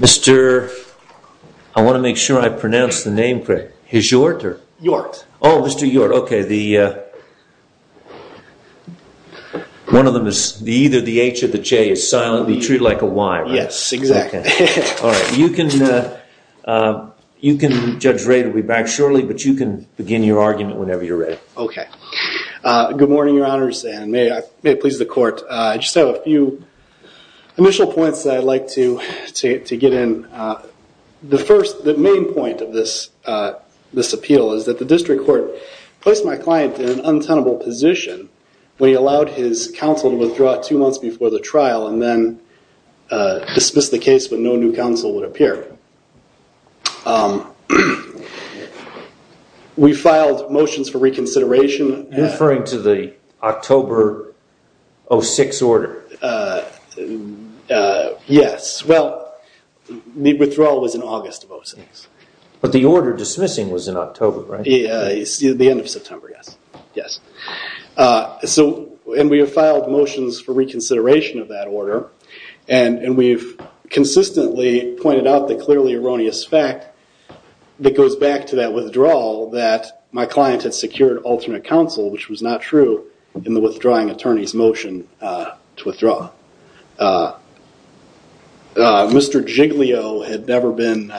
Mr. I want to make sure I pronounce the name correctly. Is it Yort or? Yort. Oh, Mr. Yort. Okay. One of them is either the H or the J. It's silently treated like a Y, right? Yes, exactly. Okay. All right. You can, Judge Ray will be back shortly, but you can begin your argument whenever you're ready. Okay. Good morning, Your Honors, and may it please the court. I just have a few initial points that I'd like to get in. The first, the main point of this appeal is that the district court placed my client in an untenable position when he allowed his counsel to withdraw two months before the trial and then dismissed the case when no new counsel would appear. Okay. We filed motions for reconsideration- You're referring to the October 06 order? Yes. Well, the withdrawal was in August of 06. But the order dismissing was in October, right? The end of September, yes. Yes. And we have filed motions for reconsideration of that and clearly erroneous fact that goes back to that withdrawal that my client had secured alternate counsel, which was not true in the withdrawing attorney's motion to withdraw. Mr. Giglio had never been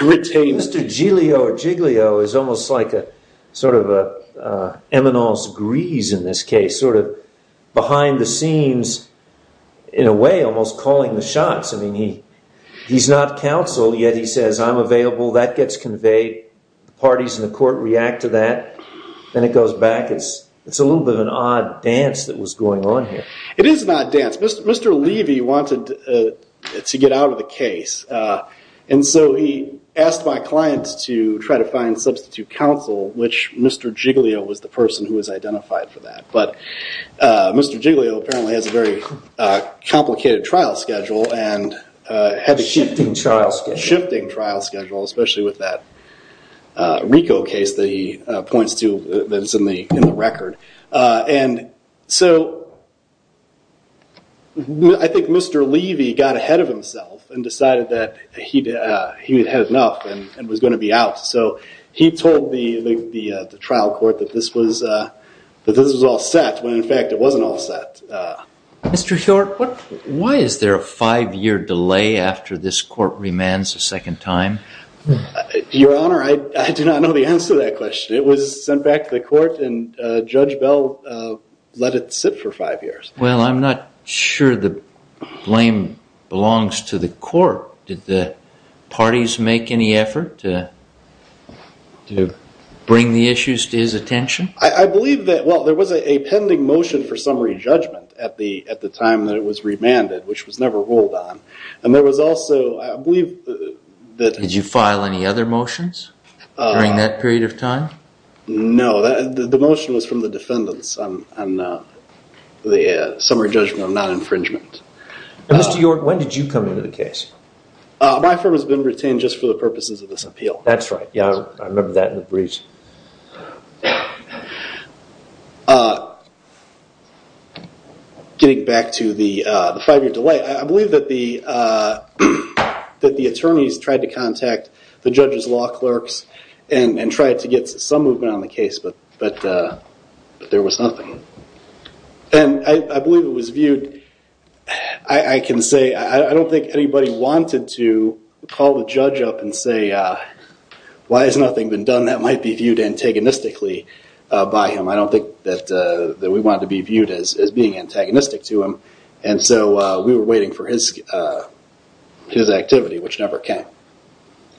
retained- Mr. Giglio is almost like a sort of an eminence grise in this case, sort of behind the scenes in a way, almost calling the shots. I mean, he's not counsel yet he says, I'm available. That gets conveyed. Parties in the court react to that. Then it goes back. It's a little bit of an odd dance that was going on here. It is an odd dance. Mr. Levy wanted to get out of the case. And so he asked my clients to try to find substitute counsel, which Mr. Giglio was the person who was identified for a very complicated trial schedule and had a shifting trial schedule, especially with that RICO case that he points to that's in the record. And so I think Mr. Levy got ahead of himself and decided that he had had enough and was going to be out. So he told the trial court that this was all set when in fact it wasn't all set. Mr. Short, why is there a five-year delay after this court remands a second time? Your Honor, I do not know the answer to that question. It was sent back to the court and Judge Bell let it sit for five years. Well, I'm not sure the blame belongs to the court. Did the parties make any effort to bring the issues to his attention? I believe that, well, there was a pending motion for summary judgment at the time that it was remanded, which was never ruled on. And there was also, I believe that... Did you file any other motions during that period of time? No. The motion was from the defendants on the summary judgment on non-infringement. Mr. York, when did you come into the case? My firm has been retained just for the purposes of this appeal. That's right. Yeah, I remember that in the briefs. Getting back to the five-year delay, I believe that the attorneys tried to contact the judge's law clerks and tried to get some movement on the case, but there was nothing. And I can say, I don't think anybody wanted to call the judge up and say, why has nothing been done that might be viewed antagonistically by him? I don't think that we wanted to be viewed as being antagonistic to him. And so we were waiting for his activity, which never came.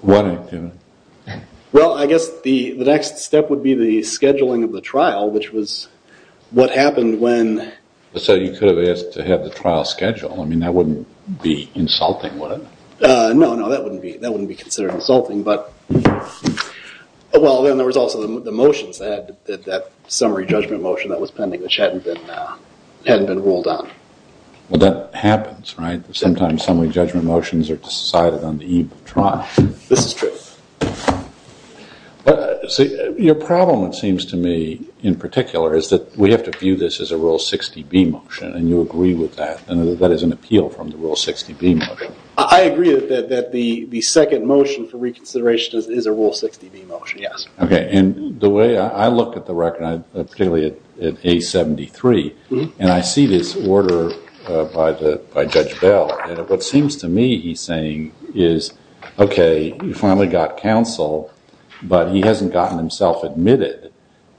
What activity? Well, I guess the next step would be the scheduling of the trial, which was what happened when... So you could have asked to have the trial scheduled. I mean, that wouldn't be insulting, would it? No, no, that wouldn't be considered insulting. But, well, then there was also the motions that had that summary judgment motion that was pending, which hadn't been ruled on. Well, that happens, right? Sometimes summary judgment motions are decided on the eve of the trial. This is true. But your problem, it seems to me, in particular, is that we have to view this as a Rule 60B motion, and you agree with that, and that is an appeal from the Rule 60B motion. I agree that the second motion for reconsideration is a Rule 60B motion, yes. Okay, and the way I look at the record, particularly at A73, and I see this order by Judge Bell, and what seems to me he's saying is, okay, you finally got counsel, but he hasn't gotten himself admitted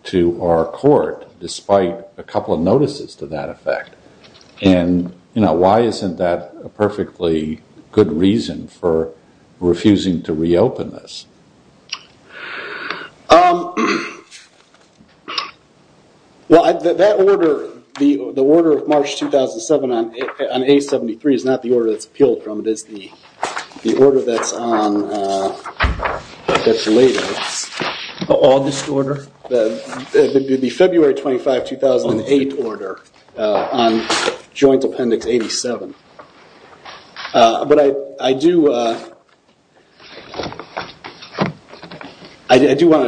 to our court, despite a couple of notices to that effect. And why isn't that a perfectly good reason for refusing to reopen this? Well, that order, the order of March 2007 on A73 is not the order that's appealed from, it is the order that's on, that's later. The oldest order? The February 25, 2008 order on Joint Appendix 87. But I do want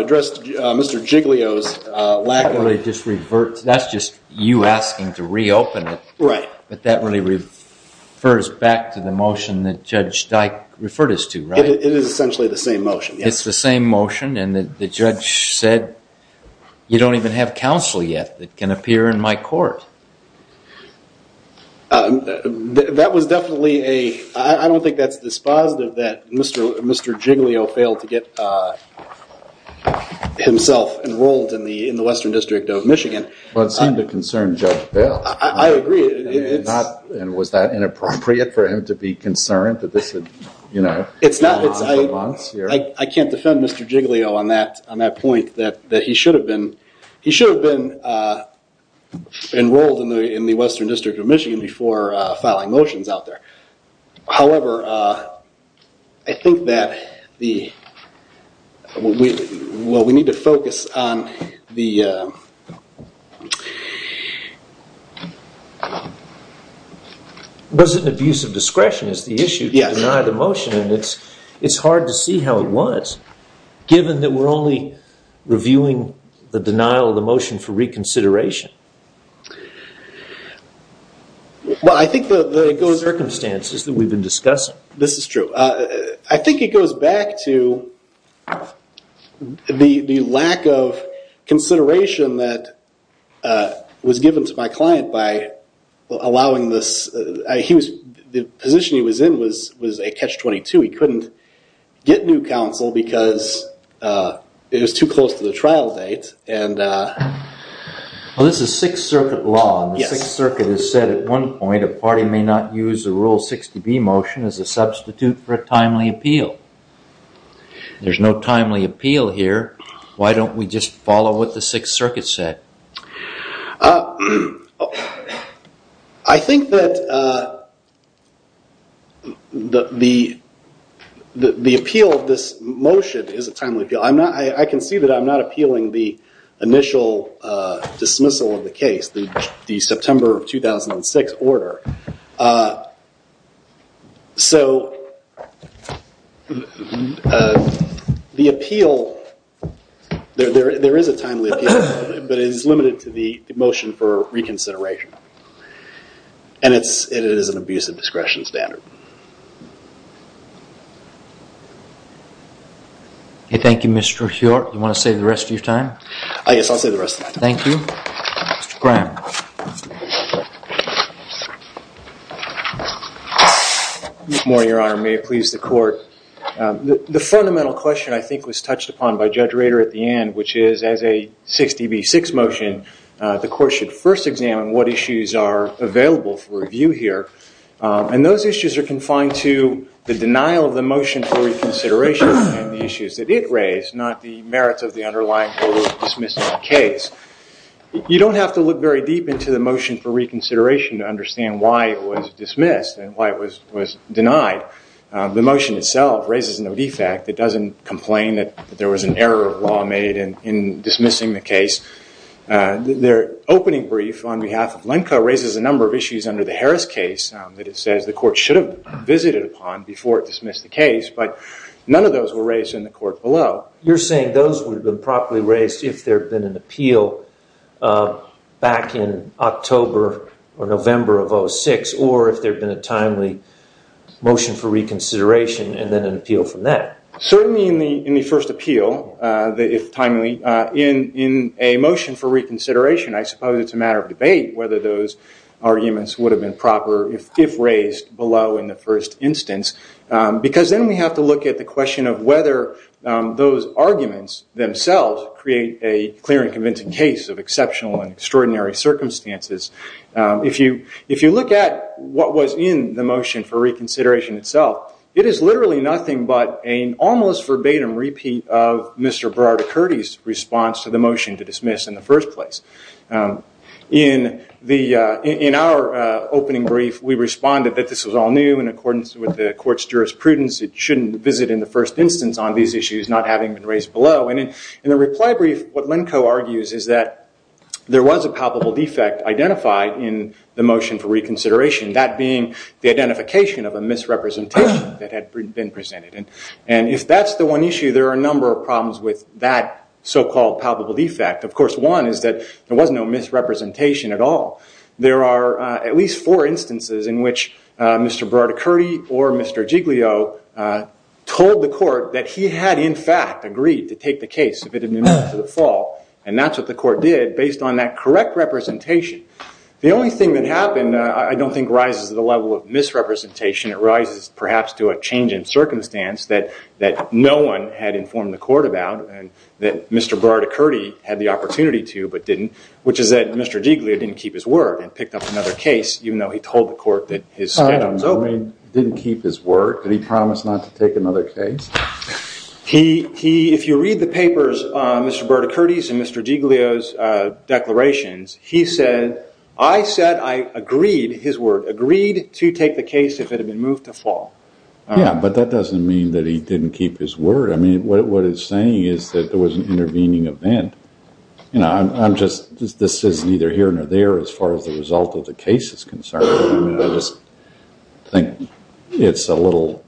to address Mr. Giglio's lack of... That's just you asking to reopen it. Right. But that really refers back to the motion that Judge Dyke referred us to, right? It is essentially the same motion, yes. It's the same motion, and the judge said, you don't even have counsel yet that can appear in my court. That was definitely a, I don't think that's dispositive that Mr. Giglio failed to get himself enrolled in the Western District of Michigan. Well, it seemed to concern Judge Bell. I agree, it's... And was that inappropriate for him to be concerned that this had, you know... I can't defend Mr. Giglio on that point, that he should have been enrolled in the Western District of Michigan before filing motions out there. However, I think that the, well, we need to focus on the... Was it an abuse of discretion is the issue to deny the motion? Yes. And it's hard to see how it was, given that we're only reviewing the denial of the motion for reconsideration. Well, I think the circumstances that we've been discussing... This is true. I think it goes back to the lack of consideration that was given to my client by allowing this... The position he was in was a catch-22. He couldn't get new counsel because it was too close to the trial date, and... Well, this is Sixth Circuit law, and the Sixth Circuit has said at one point, a party may not use the Rule 60B motion as a substitute for a timely appeal. There's no timely appeal here. Why don't we just follow what the Sixth Circuit said? I think that the appeal of this motion is a timely appeal. I can see that I'm not appealing the initial dismissal of the case, the September of 2006 order. The appeal... There is a timely appeal, but it is limited to the motion for reconsideration. And it is an abuse of discretion standard. Thank you, Mr. Hjort. You want to say the rest of your time? Yes, I'll say the rest of my time. Thank you. Mr. Graham. Good morning, Your Honor. May it please the Court. The fundamental question I think was touched upon by Judge Rader at the end, which is, as a 60B6 motion, the Court should first examine what issues are available for review here. And those issues are confined to the denial of the motion for reconsideration and the issues that it raised, not the merits of the underlying order of dismissal of the case. You don't have to look very deep into the motion for reconsideration to understand why it was dismissed and why it was denied. The motion itself raises no defect. It doesn't complain that there was an error of law made in dismissing the case. Their opening brief on behalf of Lenka raises a number of issues under the Harris case that it says the Court should have visited upon before it dismissed the case, but none of those were raised in the court below. You're saying those would have been properly raised if there had been an appeal back in October or November of 2006 or if there had been a timely motion for reconsideration and then an appeal from that. Certainly in the first appeal, if timely, in a motion for reconsideration, I suppose it's a matter of debate whether those arguments would have been proper if raised below in the first instance, because then we have to look at the question of whether those arguments themselves create a clear and convincing case of exceptional and extraordinary circumstances. If you look at what was in the motion for reconsideration itself, it is literally nothing but an almost verbatim repeat of Mr. Burrard-Curdy's response to the motion to dismiss in the first place. In our opening brief, we responded that this was all new. In accordance with the Court's jurisprudence, it shouldn't visit in the first instance on these issues not having been raised below. In the reply brief, what Lenko argues is that there was a palpable defect identified in the motion for reconsideration, that being the identification of a misrepresentation that had been presented. If that's the one issue, there are a number of problems with that so-called palpable defect. Of course, one is that there was no misrepresentation at all. There are at least four instances in which Mr. Burrard-Curdy or Mr. Giglio told the Court that he had, in fact, agreed to take the case if it had been moved to the fall, and that's what the Court did based on that correct representation. The only thing that happened I don't think rises to the level of misrepresentation. It rises, perhaps, to a change in circumstance that no one had informed the Court about and that Mr. Burrard-Curdy had the opportunity to but didn't, which is that Mr. Giglio didn't keep his word and picked up another case, even though he told the Court that his schedule was open. He didn't keep his word? Did he promise not to take another case? If you read the papers, Mr. Burrard-Curdy's and Mr. Giglio's declarations, he said, I said I agreed, his word, agreed to take the case if it had been moved to fall. Yeah, but that doesn't mean that he didn't keep his word. I mean, what it's saying is that there was an intervening event. I'm just, this is neither here nor there as far as the result of the case is concerned. I just think it's a little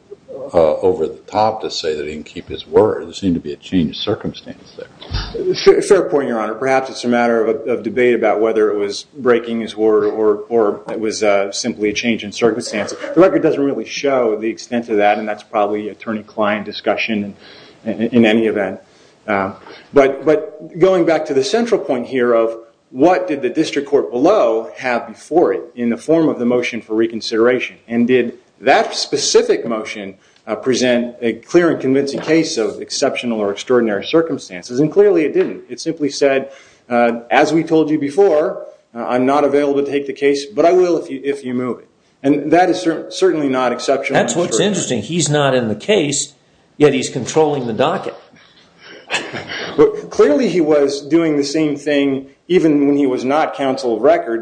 over the top to say that he didn't keep his word. There seemed to be a change in circumstance there. Fair point, Your Honor. Perhaps it's a matter of debate about whether it was breaking his word or it was simply a change in circumstance. The record doesn't really show the extent of that, and that's probably an attorney-client discussion in any event. But going back to the central point here of what did the district court below have before it in the form of the motion for reconsideration? And did that specific motion present a clear and convincing case of exceptional or extraordinary circumstances? And clearly it didn't. It simply said, as we told you before, I'm not available to take the case, but I will if you move it. And that is certainly not exceptional. That's what's interesting. He's not in the case, yet he's controlling the docket.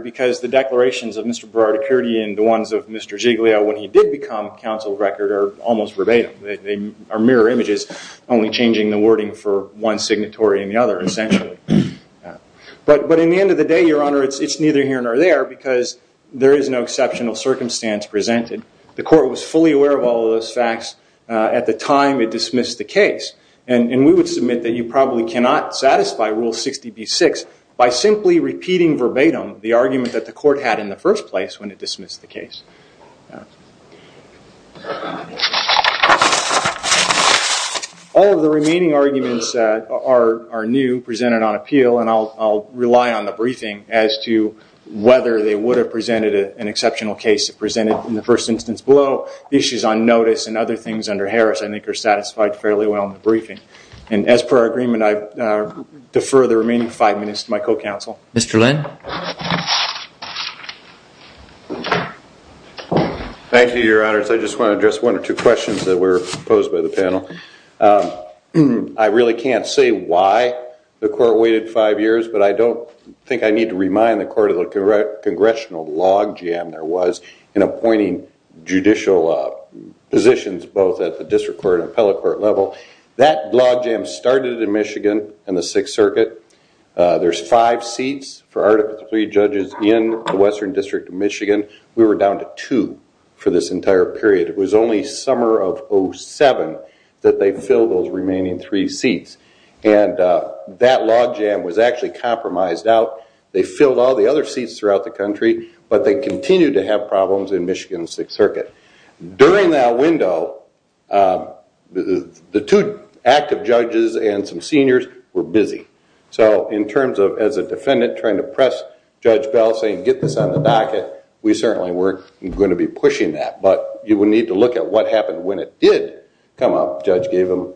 Because the declarations of Mr. Berardicurti and the ones of Mr. Giglio, when he did become counsel of record, are almost verbatim. They are mirror images, only changing the wording for one signatory and the other, essentially. But in the end of the day, Your Honor, it's neither here nor there, because there is no exceptional circumstance presented. The court was fully aware of all of those facts at the time it dismissed the case. And we would submit that you probably cannot satisfy Rule 60b-6 by simply repeating verbatim the argument that the court had in the first place when it dismissed the case. All of the remaining arguments are new, presented on appeal, and I'll rely on the briefing as to whether they would have presented an exceptional case if presented in the first instance below. The issues on notice and other things under Harris, I think, are satisfied fairly well in the briefing. And as per our agreement, I defer the remaining five minutes to my co-counsel. Mr. Lynn. Thank you, Your Honors. I just want to address one or two questions that were posed by the panel. I really can't say why the court waited five years, but I don't think I need to remind the court of the congressional logjam there was in appointing judicial positions both at the district court and appellate court level. That logjam started in Michigan in the Sixth Circuit. There's five seats for Article III judges in the Western District of Michigan. We were down to two for this entire period. It was only summer of 2007 that they filled those remaining three seats, and that logjam was actually compromised out. They filled all the other seats throughout the country, During that window, the two active judges and some seniors were busy. So in terms of as a defendant trying to press Judge Bell saying, get this on the docket, we certainly weren't going to be pushing that. But you would need to look at what happened when it did come up. Judge gave him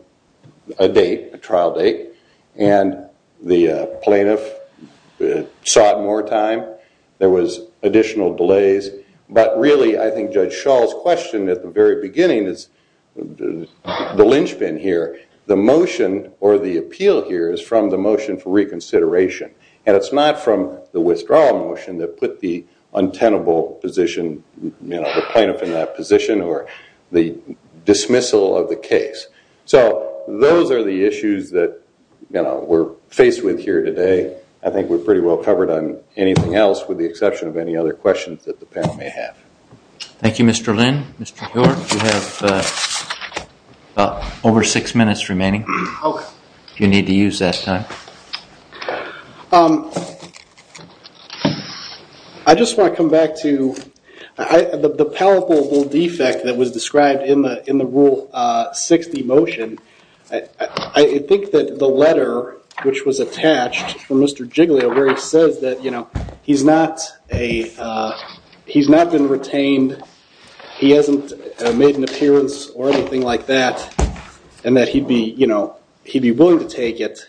a date, a trial date, and the plaintiff sought more time. There was additional delays. But really, I think Judge Schall's question at the very beginning is the linchpin here. The motion or the appeal here is from the motion for reconsideration, and it's not from the withdrawal motion that put the untenable position, the plaintiff in that position or the dismissal of the case. So those are the issues that we're faced with here today. I think we're pretty well covered on anything else with the exception of any other questions that the panel may have. Thank you, Mr. Lynn. Mr. Hiller, you have over six minutes remaining. You need to use that time. I just want to come back to the palpable defect that was described in the Rule 60 motion. I think that the letter which was attached from Mr. Giglio where he says that he's not been retained, he hasn't made an appearance or anything like that, and that he'd be willing to take it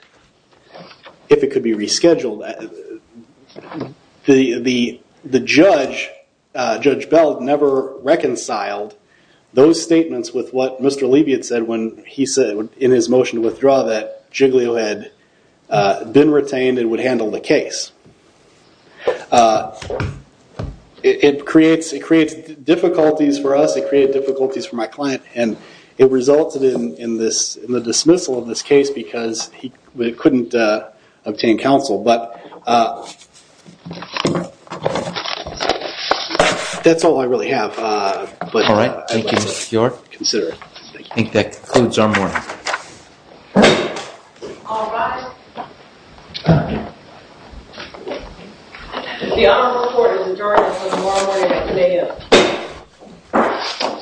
if it could be rescheduled. The judge, Judge Bell, never reconciled those statements with what Mr. Levy had said when he said in his motion to withdraw that Giglio had been retained and would handle the case. It creates difficulties for us. It created difficulties for my client, and it resulted in the dismissal of this case because he couldn't obtain counsel. But that's all I really have. All right. Thank you, Mr. Bjork. Consider it. Thank you. I think that concludes our morning. All rise. The honorable court is adjourned until tomorrow morning at 2 a.m.